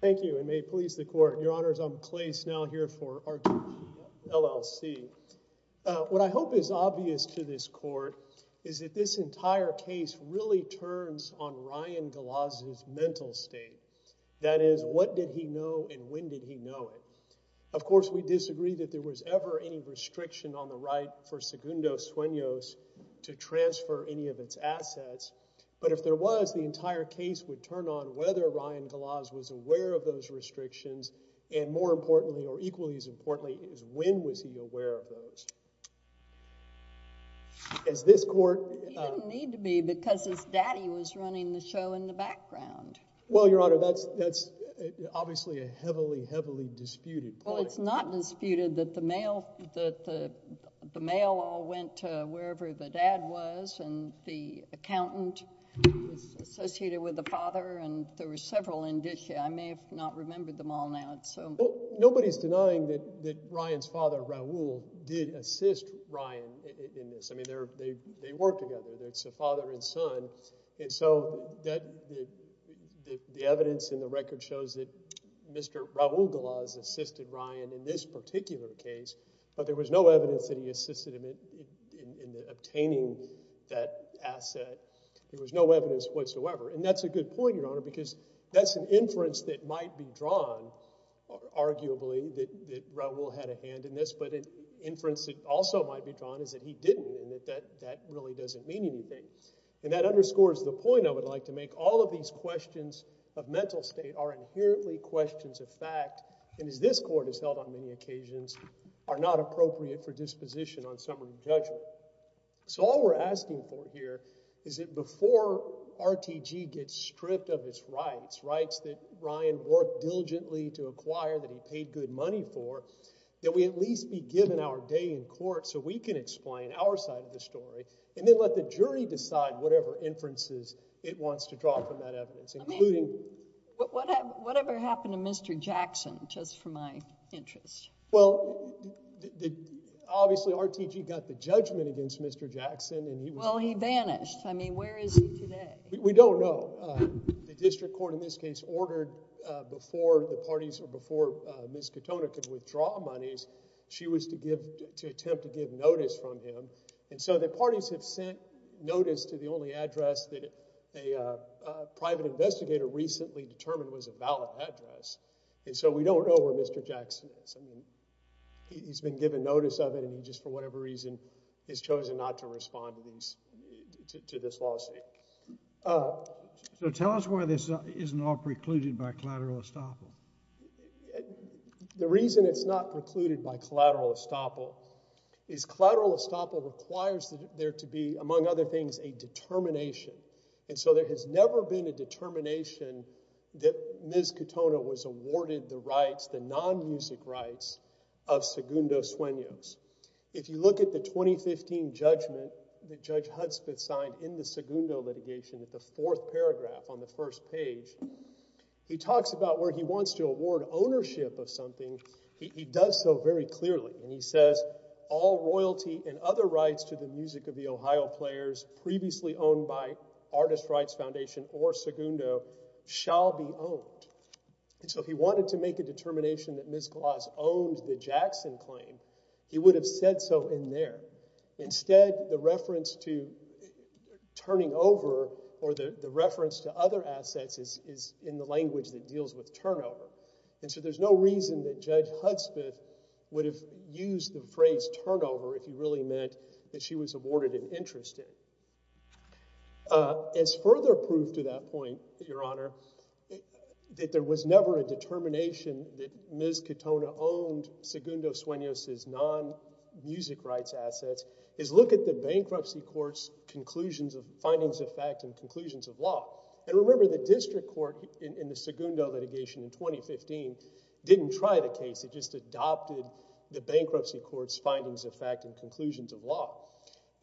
Thank you, and may it please the Court, Your Honors, I'm Clay Snell here for RG LLC. What I hope is obvious to this Court is that this entire case really turns on Ryan DeLazio's mental state. That is, what did he know and when did he know it? Of course, we disagree that there was ever any restriction on the right for Segundo Sueños to transfer any of its assets, but if there was, the entire case would turn on whether Ryan DeLazio was aware of those restrictions, and more importantly, or equally as importantly, is when was he aware of those? As this Court- He didn't need to be because his daddy was running the show in the background. Well, Your Honor, that's obviously a heavily, heavily disputed point. Well, it's not disputed that the mail all went to wherever the dad was, and the accountant was associated with the father, and there were several indicia, I may have not remembered them all now. Well, nobody's denying that Ryan's father, Raul, did assist Ryan in this. I mean, they worked together, it's a father and son, and so the evidence in the record shows that Mr. Raul DeLazio assisted Ryan in this particular case, but there was no evidence that he assisted him in obtaining that asset. There was no evidence whatsoever, and that's a good point, Your Honor, because that's an inference that might be drawn, arguably, that Raul had a hand in this, but an inference that also might be drawn is that he didn't, and that really doesn't mean anything, and that underscores the point I would like to make. All of these questions of mental state are inherently questions of fact, and as this Court has held on many occasions, are not appropriate for disposition on summary judgment. So all we're asking for here is that before RTG gets stripped of its rights, rights that Ryan worked diligently to acquire, that he paid good money for, that we at least be given our day in court so we can explain our side of the story, and then let the jury decide whatever inferences it wants to draw from that evidence, including... I mean, whatever happened to Mr. Jackson, just for my interest? Well, obviously, RTG got the judgment against Mr. Jackson, and he was... Well, he vanished. I mean, where is he today? We don't know. The district court in this case ordered before the parties or before Ms. Katona could withdraw monies, she was to attempt to give notice from him, and so the parties have sent notice to the only address that a private investigator recently determined was a valid address, and so we don't know where Mr. Jackson is. I mean, he's been given notice of it, and just for whatever reason, he's chosen not to respond to these... to this lawsuit. So tell us why this isn't all precluded by collateral estoppel. The reason it's not precluded by collateral estoppel is collateral estoppel requires there to be, among other things, a determination, and so there has never been a determination that Ms. Katona was awarded the rights, the non-music rights, of Segundo Sueños. If you look at the 2015 judgment that Judge Hudspeth signed in the Segundo litigation at the fourth paragraph on the first page, he talks about where he wants to award ownership of something. And he does so very clearly, and he says, all royalty and other rights to the music of the Ohio Players, previously owned by Artist Rights Foundation or Segundo, shall be owned. And so if he wanted to make a determination that Ms. Gloss owned the Jackson claim, he would have said so in there. Instead, the reference to turning over, or the reference to other assets, is in the language that deals with turnover. And so there's no reason that Judge Hudspeth would have used the phrase turnover if he really meant that she was awarded an interest in. As further proof to that point, Your Honor, that there was never a determination that Ms. Katona owned Segundo Sueños' non-music rights assets, is look at the bankruptcy court's conclusions of findings of fact and conclusions of law. And remember, the district court in the Segundo litigation in 2015 didn't try the case. It just adopted the bankruptcy court's findings of fact and conclusions of law.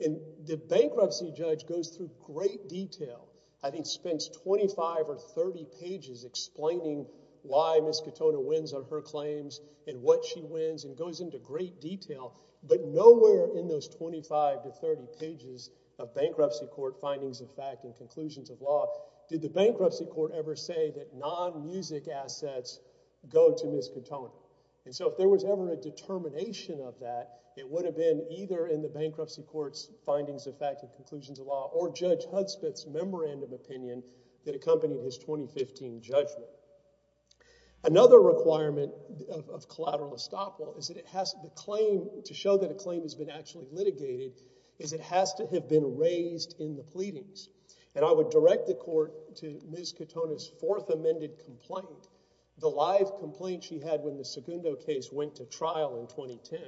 And the bankruptcy judge goes through great detail, I think spends 25 or 30 pages explaining why Ms. Katona wins on her claims, and what she wins, and goes into great detail. But nowhere in those 25 to 30 pages of bankruptcy court findings of fact and conclusions of law did the bankruptcy court ever say that non-music assets go to Ms. Katona. And so if there was ever a determination of that, it would have been either in the bankruptcy court's findings of fact and conclusions of law, or Judge Hudspeth's memorandum opinion that accompanied his 2015 judgment. Another requirement of collateral estoppel is that it has to claim, to show that a claim has been actually litigated, is it has to have been raised in the pleadings. And I would direct the court to Ms. Katona's fourth amended complaint, the live complaint she had when the Segundo case went to trial in 2010.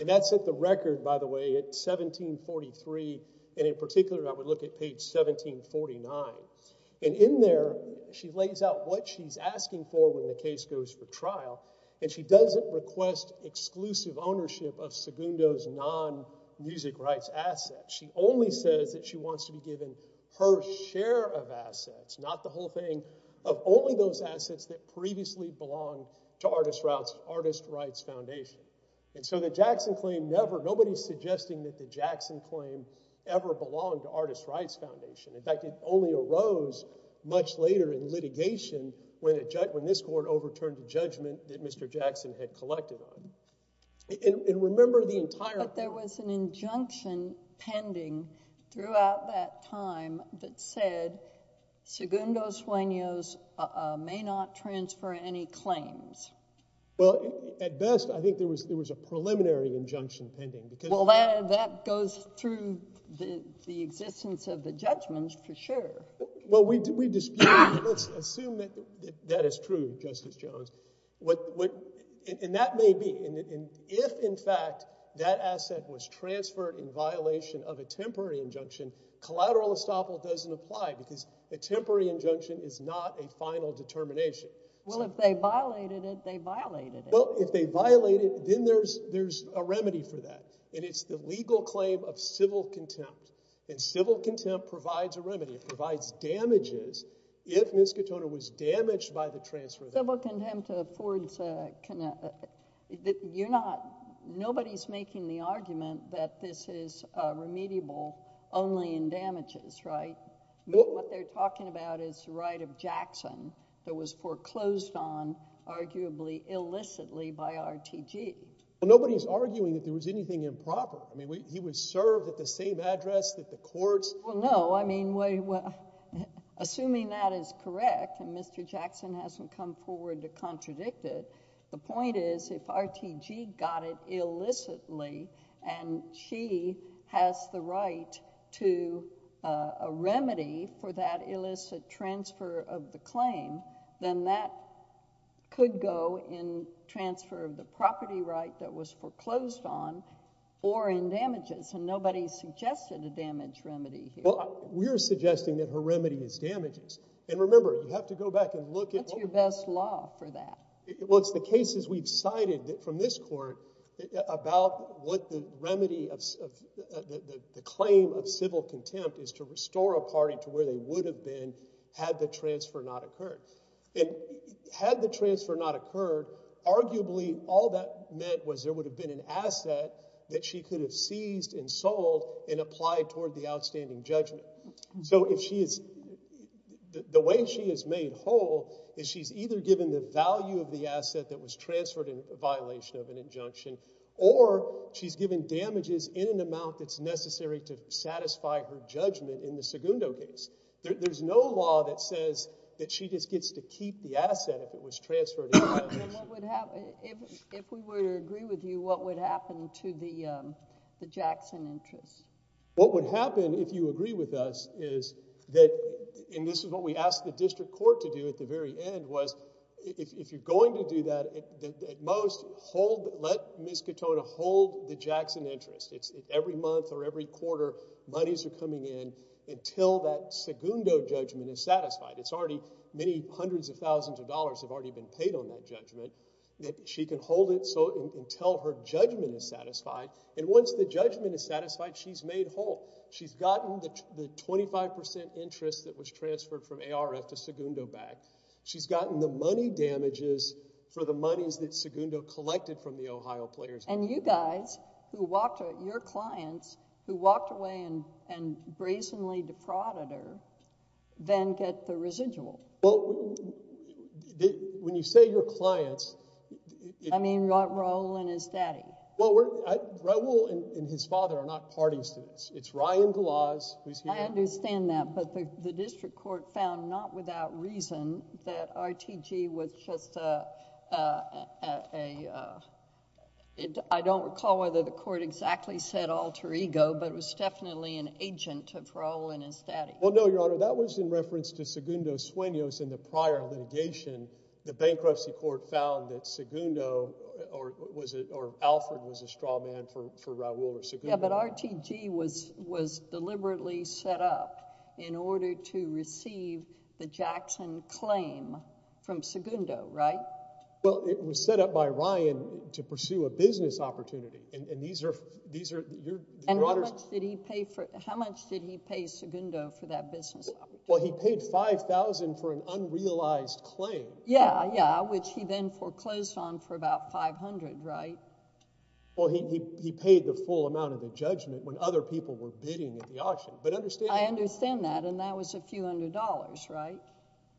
And that set the record, by the way, at 1743, and in particular I would look at page 1749. And in there, she lays out what she's asking for when a case goes for trial, and she doesn't request exclusive ownership of Segundo's non-music rights assets. She only says that she wants to be given her share of assets, not the whole thing, of only those assets that previously belonged to Artist Rights Foundation. And so the Jackson claim never, nobody's suggesting that the Jackson claim ever belonged to Artist Rights Foundation. In fact, it only arose much later in litigation when this court overturned the judgment that Mr. Jackson had collected on. And remember the entire... But there was an injunction pending throughout that time that said Segundo Sueno's may not transfer any claims. Well, at best, I think there was a preliminary injunction pending. Well, that goes through the existence of the judgments for sure. Well, we dispute, let's assume that that is true, Justice Jones. And that may be. And if, in fact, that asset was transferred in violation of a temporary injunction, collateral estoppel doesn't apply, because a temporary injunction is not a final determination. Well, if they violated it, they violated it. Well, if they violated it, then there's a remedy for that, and it's the legal claim of civil contempt. And civil contempt provides a remedy, it provides damages if Ms. Katona was damaged by the transfer. Civil contempt affords... You're not... Nobody's making the argument that this is remediable only in damages, right? What they're talking about is the right of Jackson that was foreclosed on, arguably illicitly, by RTG. Well, nobody's arguing that there was anything improper. I mean, he was served at the same address that the courts... Well, no. I mean, assuming that is correct, and Mr. Jackson hasn't come forward to contradict it, the point is, if RTG got it illicitly, and she has the right to a remedy for that illicit transfer of the claim, then that could go in transfer of the property right that was foreclosed on, or in damages, and nobody suggested a damage remedy here. Well, we're suggesting that her remedy is damages, and remember, you have to go back and look at... What's your best law for that? Well, it's the cases we've cited from this court about what the remedy of the claim of civil contempt is to restore a party to where they would have been had the transfer not occurred. And had the transfer not occurred, arguably, all that meant was there would have been an asset that she could have seized and sold and applied toward the outstanding judgment. So if she is... The way she is made whole is she's either given the value of the asset that was transferred in violation of an injunction, or she's given damages in an amount that's necessary to satisfy her judgment in the Segundo case. There's no law that says that she just gets to keep the asset if it was transferred in violation. And what would happen... If we were to agree with you, what would happen to the Jackson interest? What would happen, if you agree with us, is that, and this is what we asked the district court to do at the very end, was if you're going to do that, at most, let Ms. Katona hold the Jackson interest. Every month or every quarter, monies are coming in until that Segundo judgment is satisfied. It's already... Many hundreds of thousands of dollars have already been paid on that judgment. She can hold it until her judgment is satisfied, and once the judgment is satisfied, she's made whole. She's gotten the 25% interest that was transferred from ARF to Segundo back. She's gotten the money damages for the monies that Segundo collected from the Ohio players. And you guys, your clients, who walked away and brazenly defrauded her, then get the residual. Well, when you say your clients... I mean Raul and his daddy. Well, Raul and his father are not parting students. It's Ryan Galoz who's here... I understand that, but the district court found, not without reason, that RTG was just a... I don't recall whether the court exactly said alter ego, but it was definitely an agent of Raul and his daddy. Well, no, Your Honor. That was in reference to Segundo Sueños in the prior litigation. The bankruptcy court found that Segundo, or was it, or Alfred was a straw man for Raul or Segundo. Yeah, but RTG was deliberately set up in order to receive the Jackson claim from Segundo, right? Well, it was set up by Ryan to pursue a business opportunity, and these are... And how much did he pay Segundo for that business opportunity? Well, he paid $5,000 for an unrealized claim. Yeah, yeah, which he then foreclosed on for about $500, right? Well, he paid the full amount of the judgment when other people were bidding at the auction, but understand... I understand that, and that was a few hundred dollars, right?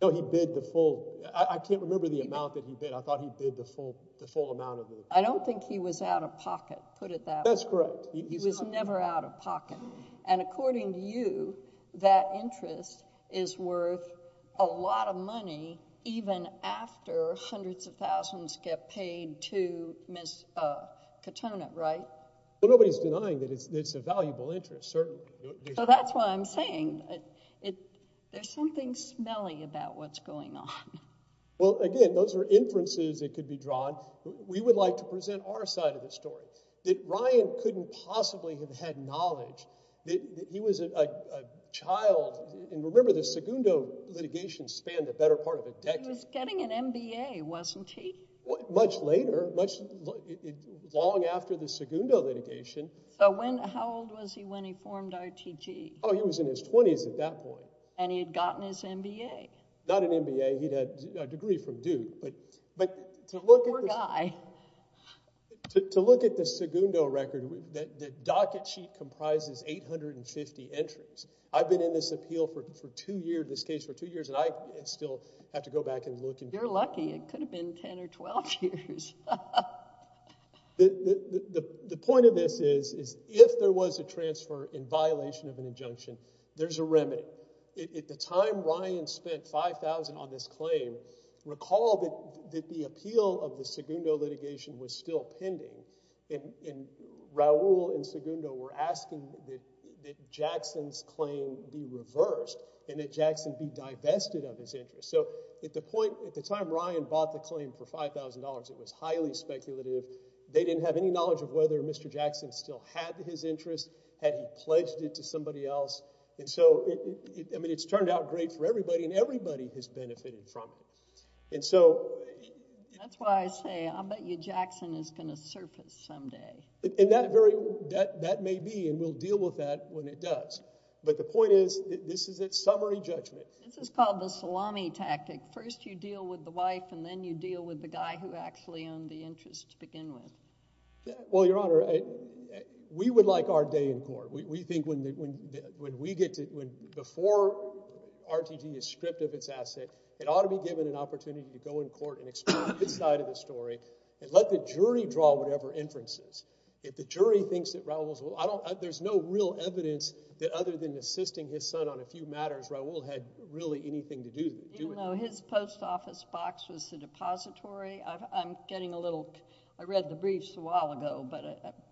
No, he bid the full... I can't remember the amount that he bid. I thought he bid the full amount of the... I don't think he was out of pocket, put it that way. That's correct. He was never out of pocket, and according to you, that interest is worth a lot of money even after hundreds of thousands get paid to Ms. Katona, right? Well, nobody's denying that it's a valuable interest, certainly. So that's why I'm saying there's something smelly about what's going on. Well, again, those are inferences that could be drawn. We would like to present our side of the story, that Ryan couldn't possibly have had knowledge. He was a child, and remember the Segundo litigation spanned a better part of a decade. He was getting an MBA, wasn't he? Much later, long after the Segundo litigation. So when... how old was he when he formed RTG? Oh, he was in his 20s at that point. And he had gotten his MBA. Not an MBA. He'd had a degree from Duke, but to look at the... Poor guy. To look at the Segundo record, the docket sheet comprises 850 entries. I've been in this appeal for two years, this case for two years, and I still have to go back and look and... You're lucky. It could have been 10 or 12 years. The point of this is, is if there was a transfer in violation of an injunction, there's a remedy. At the time Ryan spent $5,000 on this claim, recall that the appeal of the Segundo litigation was still pending, and Raul and Segundo were asking that Jackson's claim be reversed and that Jackson be divested of his interest. So at the point... at the time Ryan bought the claim for $5,000, it was highly speculative. They didn't have any knowledge of whether Mr. Jackson still had his interest, had he pledged it to somebody else, and so... I mean, it's turned out great for everybody, and everybody has benefited from it. And so... That's why I say, I'll bet you Jackson is going to surface someday. And that very... that may be, and we'll deal with that when it does. But the point is, this is a summary judgment. This is called the salami tactic. First you deal with the wife, and then you deal with the guy who actually owned the interest to begin with. Well, Your Honor, we would like our day in court. We think when we get to... before RTD is stripped of its asset, it ought to be given an opportunity to go in court and explore its side of the story, and let the jury draw whatever inferences. If the jury thinks that Raul's... I don't... there's no real evidence that other than assisting his son on a few matters, Raul had really anything to do with it. Even though his post office box was the depository, I'm getting a little... I read the briefs a while ago,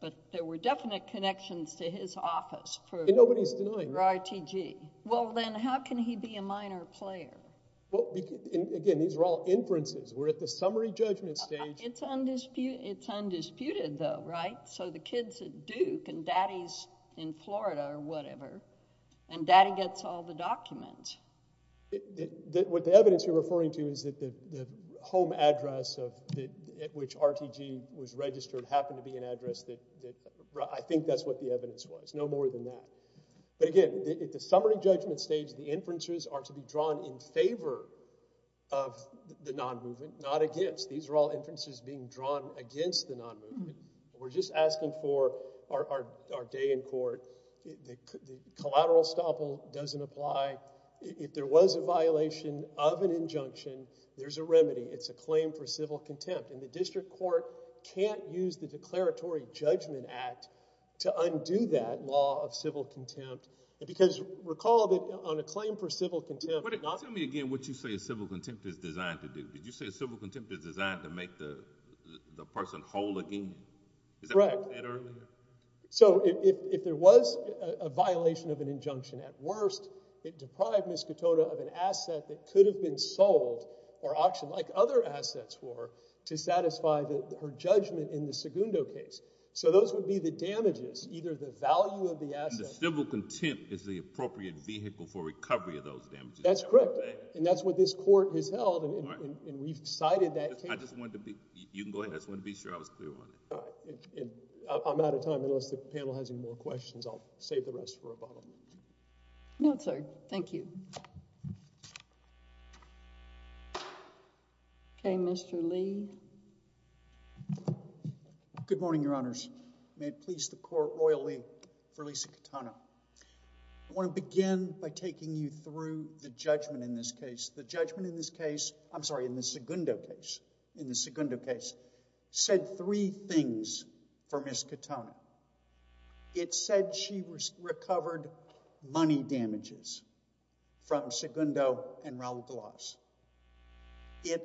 but there were definite connections to his office for... And nobody's denying.... for RTD. Well, then how can he be a minor player? Well, again, these are all inferences. We're at the summary judgment stage. It's undisputed, though, right? So the kid's at Duke, and Daddy's in Florida or whatever, and Daddy gets all the documents. What the evidence you're referring to is that the home address at which RTD was registered happened to be an address that... I think that's what the evidence was, no more than that. But again, at the summary judgment stage, the inferences are to be drawn in favor of the non-movement, not against. These are all inferences being drawn against the non-movement. We're just asking for our day in court. The collateral estoppel doesn't apply. If there was a violation of an injunction, there's a remedy. It's a claim for civil contempt, and the district court can't use the Declaratory Judgment Act to undo that law of civil contempt because, recall that on a claim for civil contempt... Tell me again what you say a civil contempt is designed to do. Did you say a civil contempt is designed to make the person whole again? Is that what you said earlier? So if there was a violation of an injunction, at worst, it deprived Ms. Katona of an asset that could have been sold or auctioned, like other assets were, to satisfy her judgment in the Segundo case. So those would be the damages, either the value of the asset... And the civil contempt is the appropriate vehicle for recovery of those damages. That's correct. And that's what this court has held, and we've cited that case... I just wanted to be... you can go ahead. I just wanted to be sure I was clear on it. All right. I'm out of time. Unless the panel has any more questions, I'll save the rest for a follow-up. No, sir. Thank you. Okay. Mr. Lee. Good morning, Your Honors. May it please the Court royally for Lisa Katona. I want to begin by taking you through the judgment in this case. The judgment in this case... I'm sorry, in the Segundo case... in the Segundo case said three things for Ms. Katona. It said she recovered money damages from Segundo and Raul Galarza...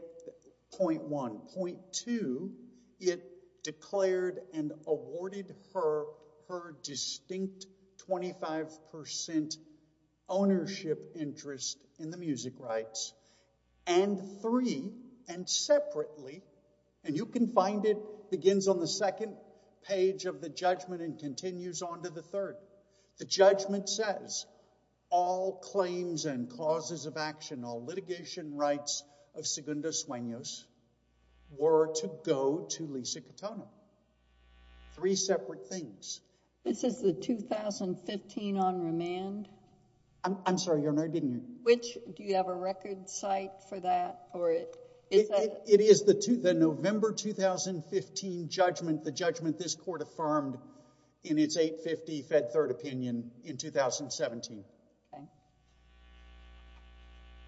point one. Point two, it declared and awarded her distinct 25% ownership interest in the music rights. And three, and separately... and you can find it begins on the second page of the judgment and continues on to the third... the judgment says, all claims and causes of action, all were to go to Lisa Katona. Three separate things. This is the 2015 on-remand... I'm sorry, Your Honor, didn't you... Which... do you have a record site for that or is that... It is the November 2015 judgment, the judgment this Court affirmed in its 850 Fed Third Opinion in 2017. Okay.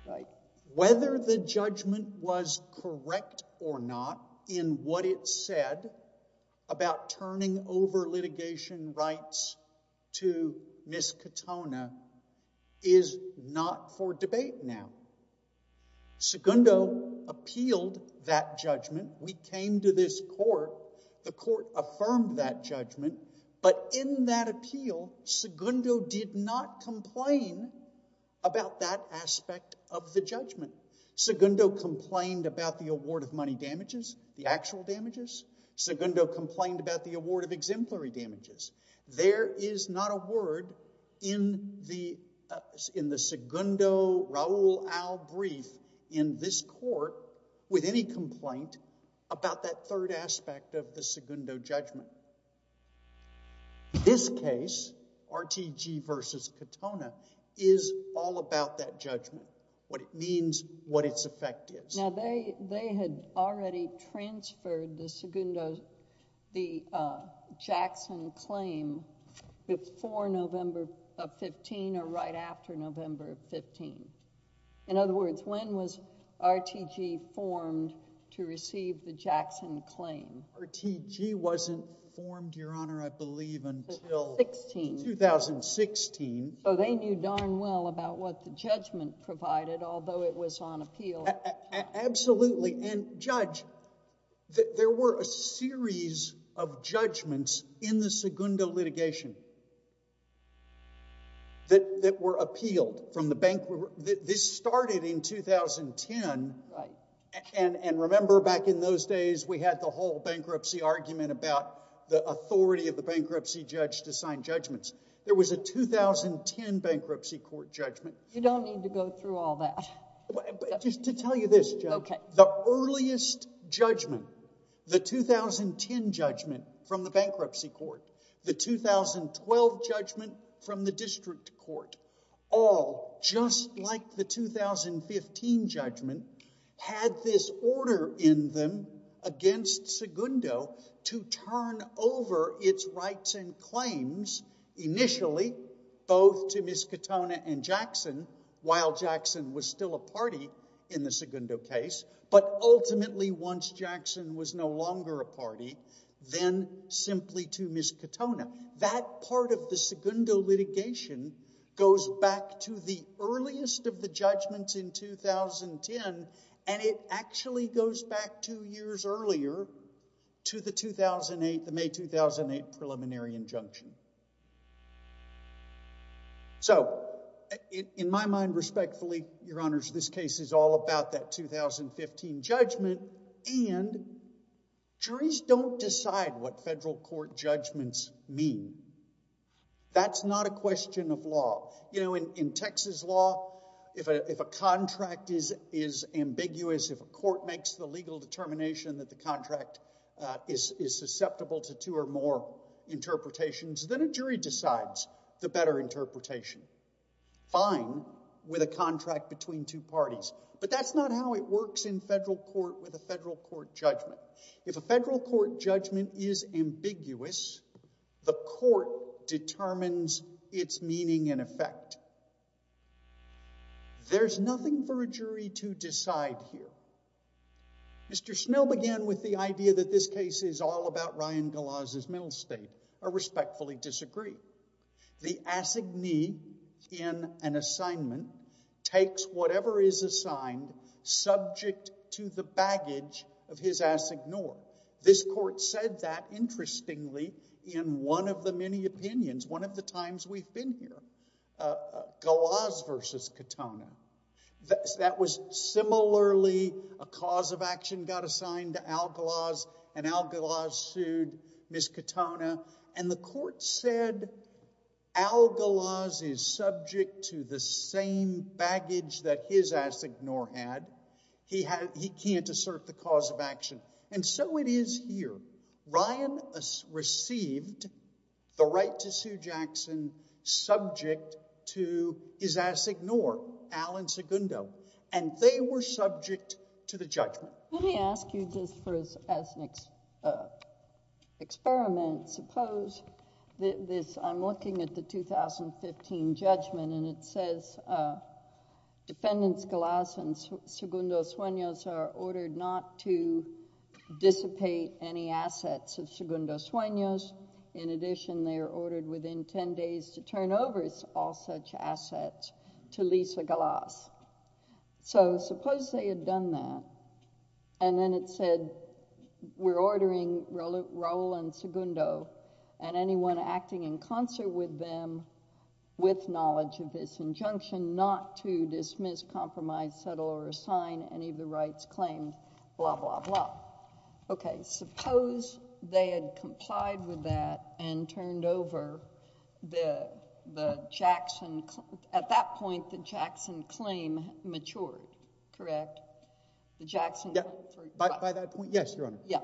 Right. Whether the judgment was correct or not in what it said about turning over litigation rights to Ms. Katona is not for debate now. Segundo appealed that judgment. We came to this Court. The Court affirmed that judgment. But in that appeal, Segundo did not complain about that aspect of the judgment. Segundo complained about the award of money damages, the actual damages. Segundo complained about the award of exemplary damages. There is not a word in the Segundo Raul Al brief in this Court with any complaint about that third aspect of the Segundo judgment. This case, RTG v. Katona, is all about that judgment, what it means, what its effect is. Now, they had already transferred the Segundo... the Jackson claim before November of 2015 or right after November of 2015. In other words, when was RTG formed to receive the Jackson claim? RTG wasn't formed, Your Honor, I believe until... Sixteen.... 2016. So they knew darn well about what the judgment provided, although it was on appeal. Absolutely. And, Judge, there were a series of judgments in the Segundo litigation that were appealed from the bank... This started in 2010, and remember back in those days, we had the whole bankruptcy argument about the authority of the bankruptcy judge to sign judgments. There was a 2010 bankruptcy court judgment. You don't need to go through all that. Just to tell you this, Judge, the earliest judgment, the 2010 judgment from the bankruptcy court, the 2012 judgment from the district court, all, just like the 2015 judgment, had this order in them against Segundo to turn over its rights and claims initially both to Ms. Katona and Jackson, while Jackson was still a party in the Segundo case, but to Ms. Katona. That part of the Segundo litigation goes back to the earliest of the judgments in 2010, and it actually goes back two years earlier to the 2008, the May 2008 preliminary injunction. So in my mind, respectfully, Your Honors, this case is all about that 2015 judgment, and juries don't decide what federal court judgments mean. That's not a question of law. You know, in Texas law, if a contract is ambiguous, if a court makes the legal determination that the contract is susceptible to two or more interpretations, then a jury decides the better interpretation. Fine, with a contract between two parties, but that's not how it works in federal court with a federal court judgment. If a federal court judgment is ambiguous, the court determines its meaning and effect. There's nothing for a jury to decide here. Mr. Snell began with the idea that this case is all about Ryan Goloz's mental state. I respectfully disagree. The assignee in an assignment takes whatever is assigned subject to the baggage of his assignor. This court said that, interestingly, in one of the many opinions, one of the times we've been here, Goloz versus Katona. That was similarly a cause of action got assigned to Al Goloz, and Al Goloz sued Ms. Katona, and the court said Al Goloz is subject to the same baggage that his assignor had. He can't assert the cause of action, and so it is here. Ryan received the right to sue Jackson subject to his assignor, Alan Segundo, and they were subject to the judgment. Let me ask you this as an experiment. Suppose I'm looking at the 2015 judgment, and it says Defendants Goloz and Segundo Sueños are ordered not to dissipate any assets of Segundo Sueños. In addition, they are ordered within ten days to turn over all such assets to Lisa Goloz. So, suppose they had done that, and then it said, we're ordering Raul and Segundo and anyone acting in concert with them with knowledge of this injunction not to dismiss, compromise, settle, or assign any of the rights claimed, blah, blah, blah. Okay, suppose they had complied with that and turned over the Jackson, at that point the Jackson claim matured, correct? The Jackson claim. By that point, yes, Your Honor. Yeah.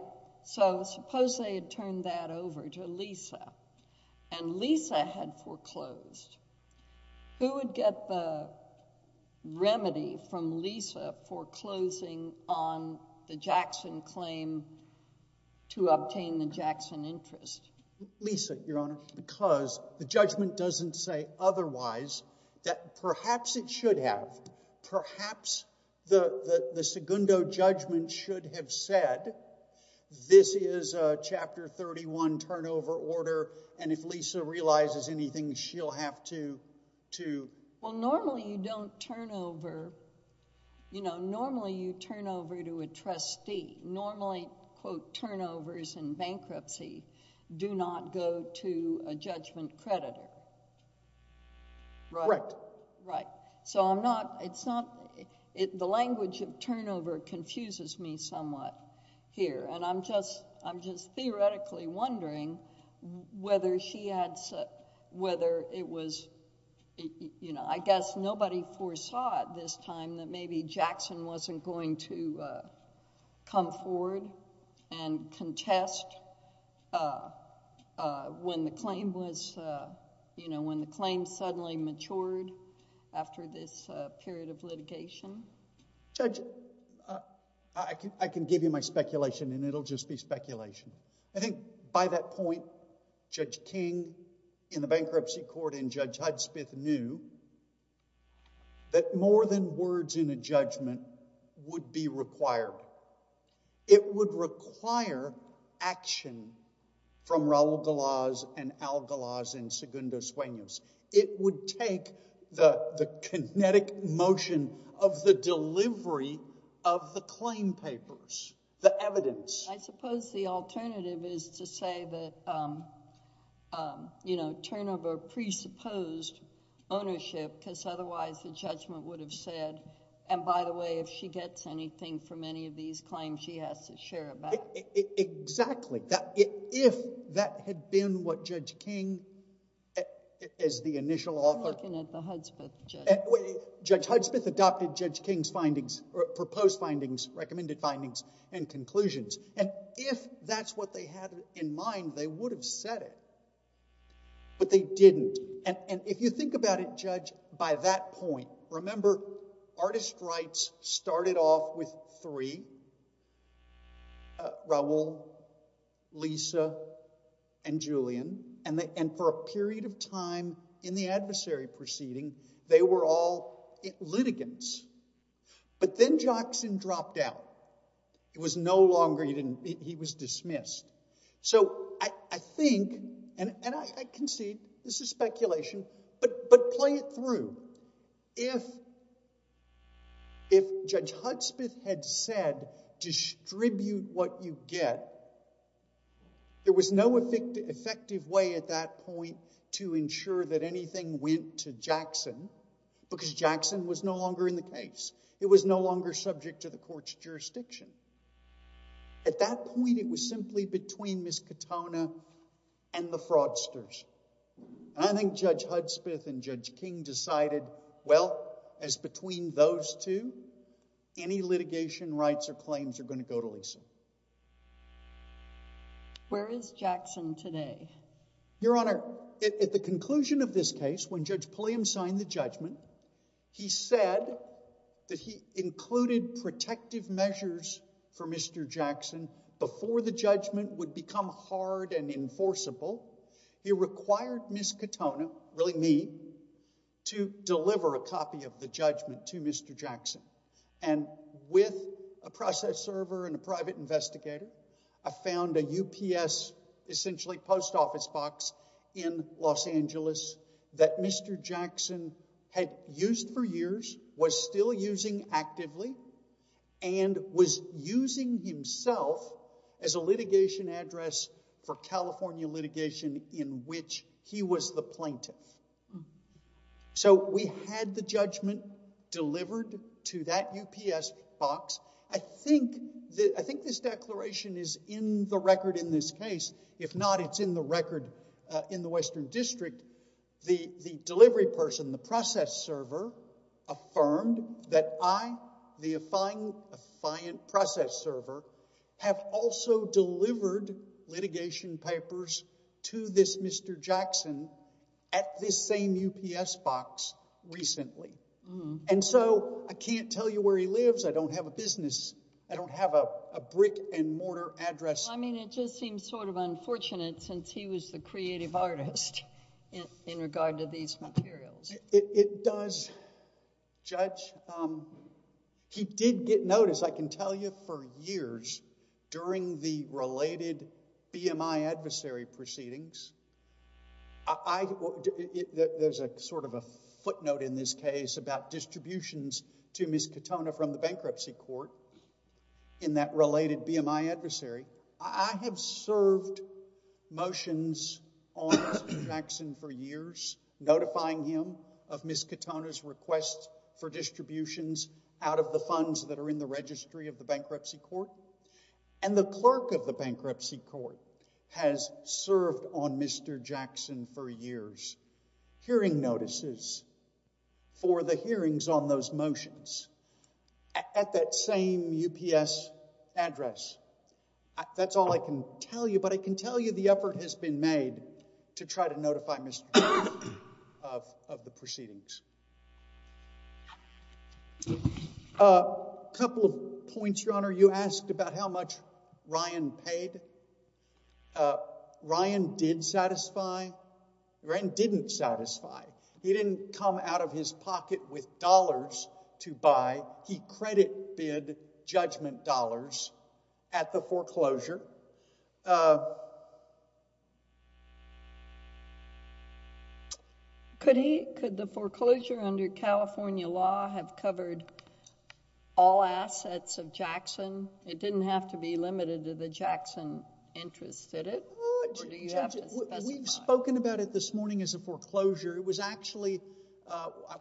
So, suppose they had turned that over to Lisa, and Lisa had foreclosed. Who would get the remedy from Lisa foreclosing on the Jackson claim to obtain the Jackson interest? Lisa, Your Honor, because the judgment doesn't say otherwise. Perhaps it should have. Perhaps the Segundo judgment should have said, this is a Chapter 31 turnover order, and if I have to... Well, normally you don't turn over, you know, normally you turn over to a trustee. Normally, quote, turnovers in bankruptcy do not go to a judgment creditor. Right. Correct. Right. So, I'm not... it's not... the language of turnover confuses me somewhat here, and I'm just theoretically wondering whether she had... whether it was... I guess nobody foresaw at this time that maybe Jackson wasn't going to come forward and contest when the claim was... you know, when the claim suddenly matured after this period of litigation. Judge, I can give you my speculation, and it'll just be speculation. I think by that point, Judge King in the bankruptcy court and Judge Hudspeth knew that more than words in a judgment would be required. It would require action from Raul Galaz and Al Galaz and Segundo Sueños. It would take the kinetic motion of the delivery of the claim papers, the evidence. I suppose the alternative is to say that, you know, turnover presupposed ownership because otherwise the judgment would have said, and by the way, if she gets anything from any of these claims, she has to share it back. Exactly. If that had been what Judge King, as the initial author... I'm looking at the Hudspeth judgment. Judge Hudspeth adopted Judge King's findings, or proposed findings, recommended findings, and conclusions. And if that's what they had in mind, they would have said it, but they didn't. And if you think about it, Judge, by that point, remember artist rights started off with three, Raul, Lisa, and Julian, and for a period of time in the adversary proceeding, they were all litigants. But then Jackson dropped out. It was no longer... he was dismissed. So I think, and I concede this is speculation, but play it through. If Judge Hudspeth had said, distribute what you get, there was no effective way at that point to ensure that anything went to Jackson because Jackson was no longer in the case. It was no longer subject to the court's jurisdiction. At that point, it was simply between Ms. Katona and the fraudsters, and I think Judge Hudspeth and Judge King decided, well, as between those two, any litigation rights or claims are going to go to Lisa. Where is Jackson today? Your Honor, at the conclusion of this case, when Judge Pulliam signed the judgment, he said that he included protective measures for Mr. Jackson before the judgment would become hard and enforceable. He required Ms. Katona, really me, to deliver a copy of the judgment to Mr. Jackson. And with a process server and a private investigator, I found a UPS, essentially post office box, in Los Angeles that Mr. Jackson had used for years, was still using actively, and was using himself as a litigation address for California litigation in which he was the plaintiff. So we had the judgment delivered to that UPS box. I think this declaration is in the record in this case. If not, it's in the record in the Western District. The delivery person, the process server, affirmed that I, the affiant process server, have also delivered litigation papers to this Mr. Jackson at this same UPS box recently. And so, I can't tell you where he lives, I don't have a business, I don't have a brick and mortar address. I mean, it just seems sort of unfortunate since he was the creative artist in regard to these materials. It does, Judge. He did get notice, I can tell you, for years during the related BMI adversary proceedings. There's sort of a footnote in this case about distributions to Ms. Katona from the bankruptcy court in that related BMI adversary. I have served motions on Mr. Jackson for years, notifying him of Ms. Katona's request for distributions out of the funds that are in the registry of the bankruptcy court. And the clerk of the bankruptcy court has served on Mr. Jackson for years, hearing notices for the hearings on those motions. At that same UPS address. That's all I can tell you, but I can tell you the effort has been made to try to notify Mr. Jackson of the proceedings. A couple of points, Your Honor. You asked about how much Ryan paid. Ryan did satisfy. Ryan didn't satisfy. He didn't come out of his pocket with dollars to buy. He credit bid judgment dollars at the foreclosure. Could he, could the foreclosure under California law have covered all assets of Jackson? It didn't have to be limited to the Jackson interest, did it? We've spoken about it this morning as a foreclosure. It was actually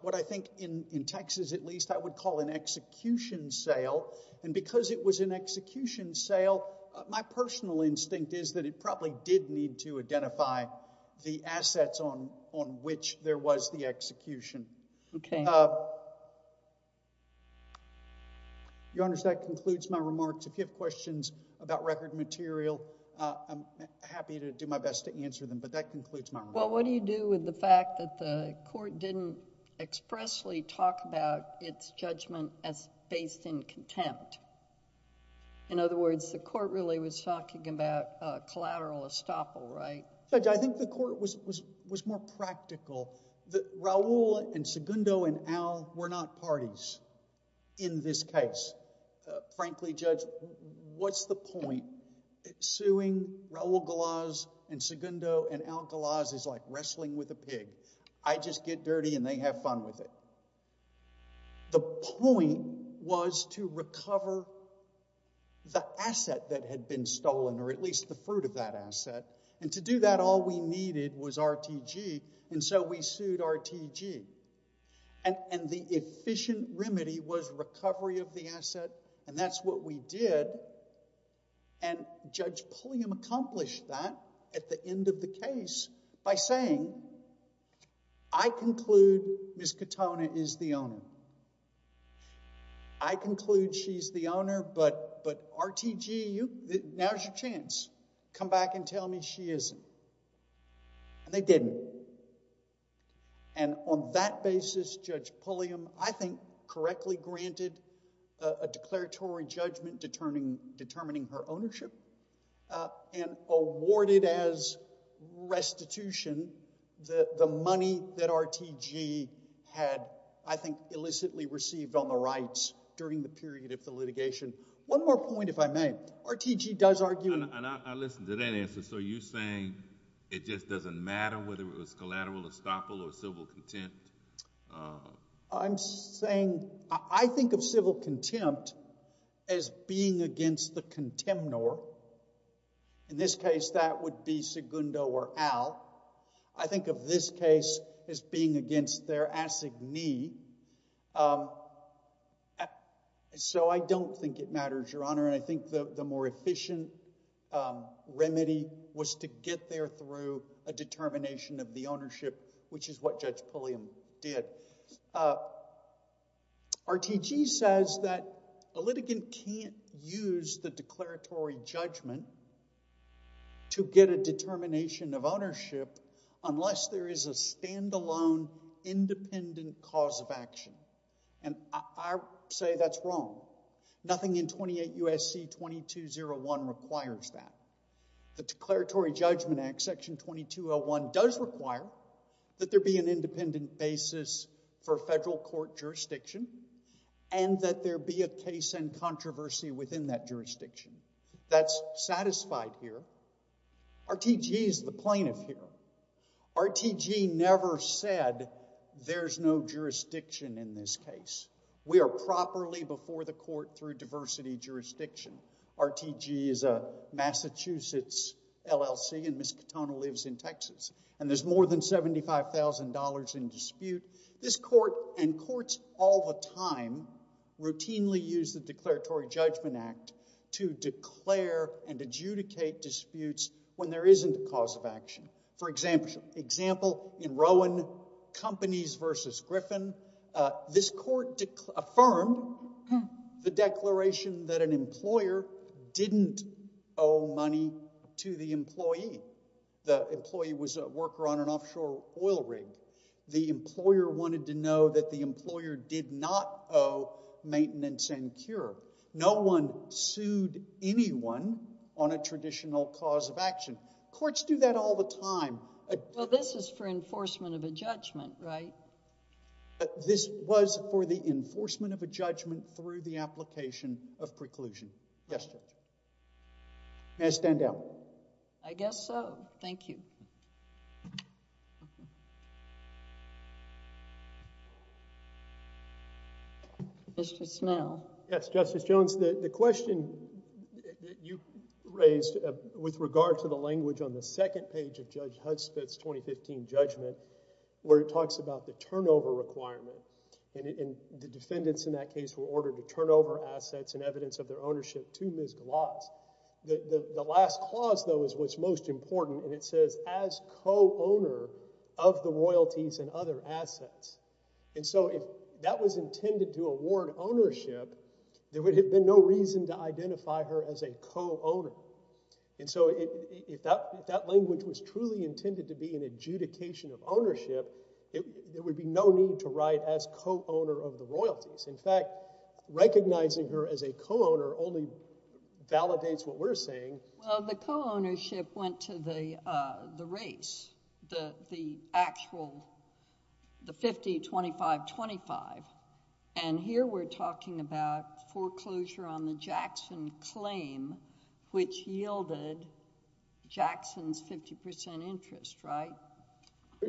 what I think in Texas, at least, I would call an execution sale. And because it was an execution sale, my personal instinct is that it probably did need to identify the assets on which there was the execution. Okay. Your Honor, that concludes my remarks. If you have questions about record material, I'm happy to do my best to answer them, but that concludes my remarks. Well, what do you do with the fact that the court didn't expressly talk about its judgment as based in contempt? In other words, the court really was talking about collateral estoppel, right? Judge, I think the court was more practical. Raul and Segundo and Al were not parties in this case. Frankly, Judge, what's the point? Suing Raul Galaz and Segundo and Al Galaz is like wrestling with a pig. I just get dirty and they have fun with it. The point was to recover the asset that had been stolen, or at least the fruit of that asset, and to do that, all we needed was RTG, and so we sued RTG. The efficient remedy was recovery of the asset, and that's what we did. Judge Pulliam accomplished that at the end of the case by saying, I conclude Ms. Katona is the owner. I conclude she's the owner, but RTG, now's your chance. Come back and tell me she isn't, and they didn't. On that basis, Judge Pulliam, I think, correctly granted a declaratory judgment determining her ownership, and awarded as restitution the money that RTG had, I think, illicitly received on the rights during the period of the litigation. One more point, if I may. RTG does argue... I listened to that answer, so you're saying it just doesn't matter whether it was collateral, estoppel, or civil contempt? I'm saying... I think of civil contempt as being against the contemnor. In this case, that would be Segundo or Al. I think of this case as being against their assignee, so I don't think it matters, Your Honor, and I think the more efficient remedy was to get there through a determination of the ownership, which is what Judge Pulliam did. RTG says that a litigant can't use the declaratory judgment to get a determination of ownership unless there is a standalone, independent cause of action, and I say that's wrong. Nothing in 28 U.S.C. 2201 requires that. The Declaratory Judgment Act, Section 2201, does require that there be an independent basis for federal court jurisdiction and that there be a case and controversy within that jurisdiction. That's satisfied here. RTG is the plaintiff here. RTG never said there's no jurisdiction in this case. We are properly before the court through diversity jurisdiction. RTG is a Massachusetts LLC, and Ms. Katona lives in Texas, and there's more than $75,000 in dispute. This court and courts all the time routinely use the Declaratory Judgment Act to declare and adjudicate disputes when there isn't a cause of action. For example, in Rowan Companies v. Griffin, this court affirmed the declaration that an employer didn't owe money to the employee. The employee was a worker on an offshore oil rig. The employer wanted to know that the employer did not owe maintenance and cure. No one sued anyone on a traditional cause of action. Courts do that all the time. Well, this is for enforcement of a judgment, right? This was for the enforcement of a judgment through the application of preclusion. Yes, Judge. May I stand down? I guess so. Thank you. Mr. Snell. Yes, Justice Jones. The question that you raised with regard to the language on the second page of Judge Hudspeth's 2015 judgment, where it talks about the turnover requirement, and the defendants in that case were ordered to turn over assets and evidence of their ownership to Ms. Gloss. The last clause, though, is what's most important, and it says, as co-owner of the royalties and other assets. And so if that was intended to award ownership, there would have been no reason to identify her as a co-owner. And so if that language was truly intended to be an adjudication of ownership, there would be no need to write as co-owner of the royalties. In fact, recognizing her as a co-owner only validates what we're saying. Well, the co-ownership went to the race, the actual, the 50-25-25. And here we're talking about foreclosure on the Jackson claim, which yielded Jackson's 50% interest, right?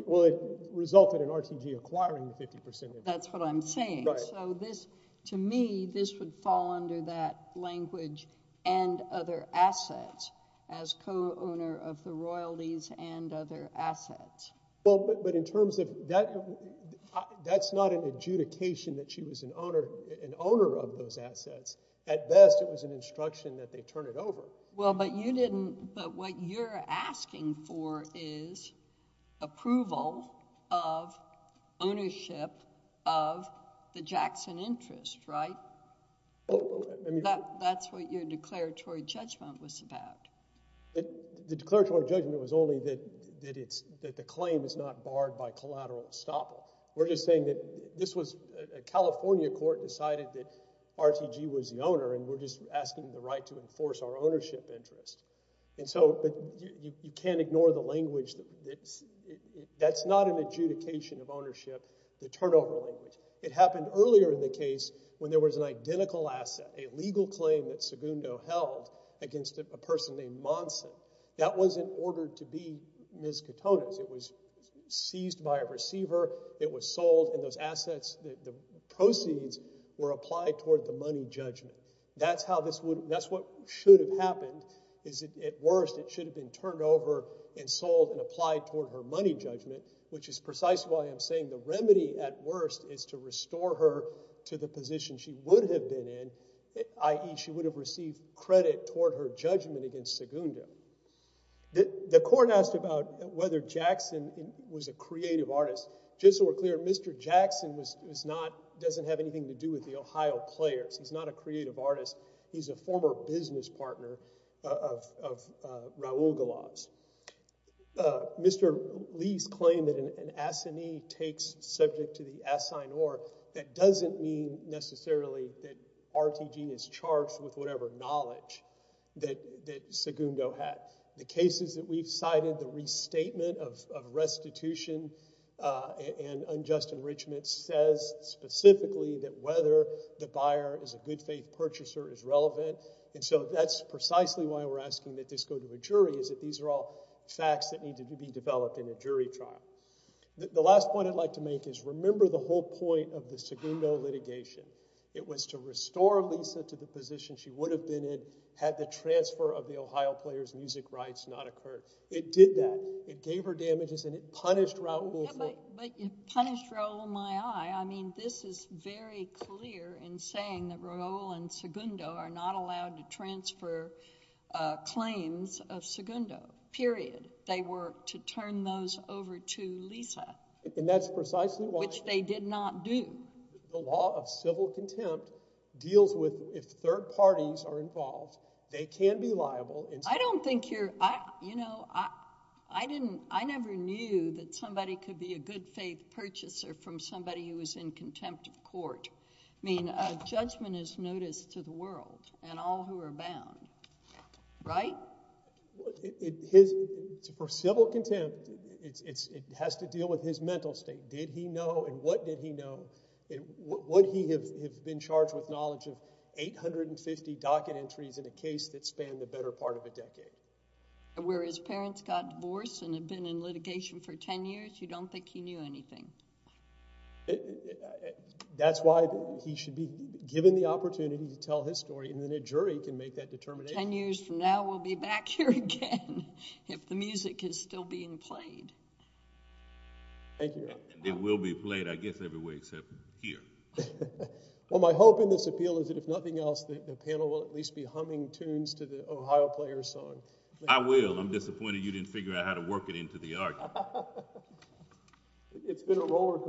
Well, it resulted in RTG acquiring the 50% interest. That's what I'm saying. Right. So this, to me, this would fall under that language and other assets, as co-owner of the royalties and other assets. Well, but in terms of that, that's not an adjudication that she was an owner of those assets. At best, it was an instruction that they turn it over. Well, but you didn't, but what you're asking for is approval of ownership of the Jackson interest, right? That's what your declaratory judgment was about. The declaratory judgment was only that the claim is not barred by collateral estoppel. We're just saying that this was a California court decided that RTG was the owner, and we're just asking the right to enforce our ownership interest. And so you can't ignore the language that's not an adjudication of ownership, the turnover language. It happened earlier in the case when there was an identical asset, a legal claim that Segundo held against a person named Monson. That was in order to be Ms. Katona's. It was seized by a receiver. It was sold, and those assets, the proceeds, were applied toward the money judgment. That's how this would, that's what should have happened, is at worst, it should have been turned over and sold and applied toward her money judgment, which is precisely why I'm saying the remedy at worst is to restore her to the position she would have been in, i.e., she would have received credit toward her judgment against Segundo. The court asked about whether Jackson was a creative artist. Just so we're clear, Mr. Jackson doesn't have anything to do with the Ohio Players. He's not a creative artist. He's a former business partner of Raul Galavs. Mr. Lee's claim that an assignee takes subject to the assignor, that doesn't mean necessarily that RTG is charged with whatever knowledge that Segundo had. The cases that we've cited, the restatement of restitution and unjust enrichment says specifically that whether the buyer is a good faith purchaser is relevant. And so that's precisely why we're asking that this go to a jury, is that these are all facts that need to be developed in a jury trial. The last point I'd like to make is remember the whole point of the Segundo litigation. It was to restore Lisa to the position she would have been in had the transfer of the Ohio Players music rights not occurred. It did that. It gave her damages, and it punished Raul for it. But it punished Raul in my eye. I mean, this is very clear in saying that Raul and Segundo are not allowed to transfer claims of Segundo, period. They were to turn those over to Lisa. And that's precisely why. Which they did not do. The law of civil contempt deals with, if third parties are involved, they can be liable. I don't think you're, you know, I didn't, I never knew that somebody could be a good faith purchaser from somebody who was in contempt of court. I mean, judgment is notice to the world and all who are bound, right? His, for civil contempt, it has to deal with his mental state. Did he know, and what did he know, and would he have been charged with knowledge of 850 docket entries in a case that spanned the better part of a decade? Where his parents got divorced and have been in litigation for 10 years, you don't think he knew anything? That's why he should be given the opportunity to tell his story, and then a jury can make that determination. 10 years from now, we'll be back here again if the music is still being played. Thank you, Your Honor. And it will be played, I guess, every way except here. Well, my hope in this appeal is that if nothing else, the panel will at least be humming tunes to the Ohio Players song. I will. I'm disappointed you didn't figure out how to work it into the argument. It's been a rollercoaster.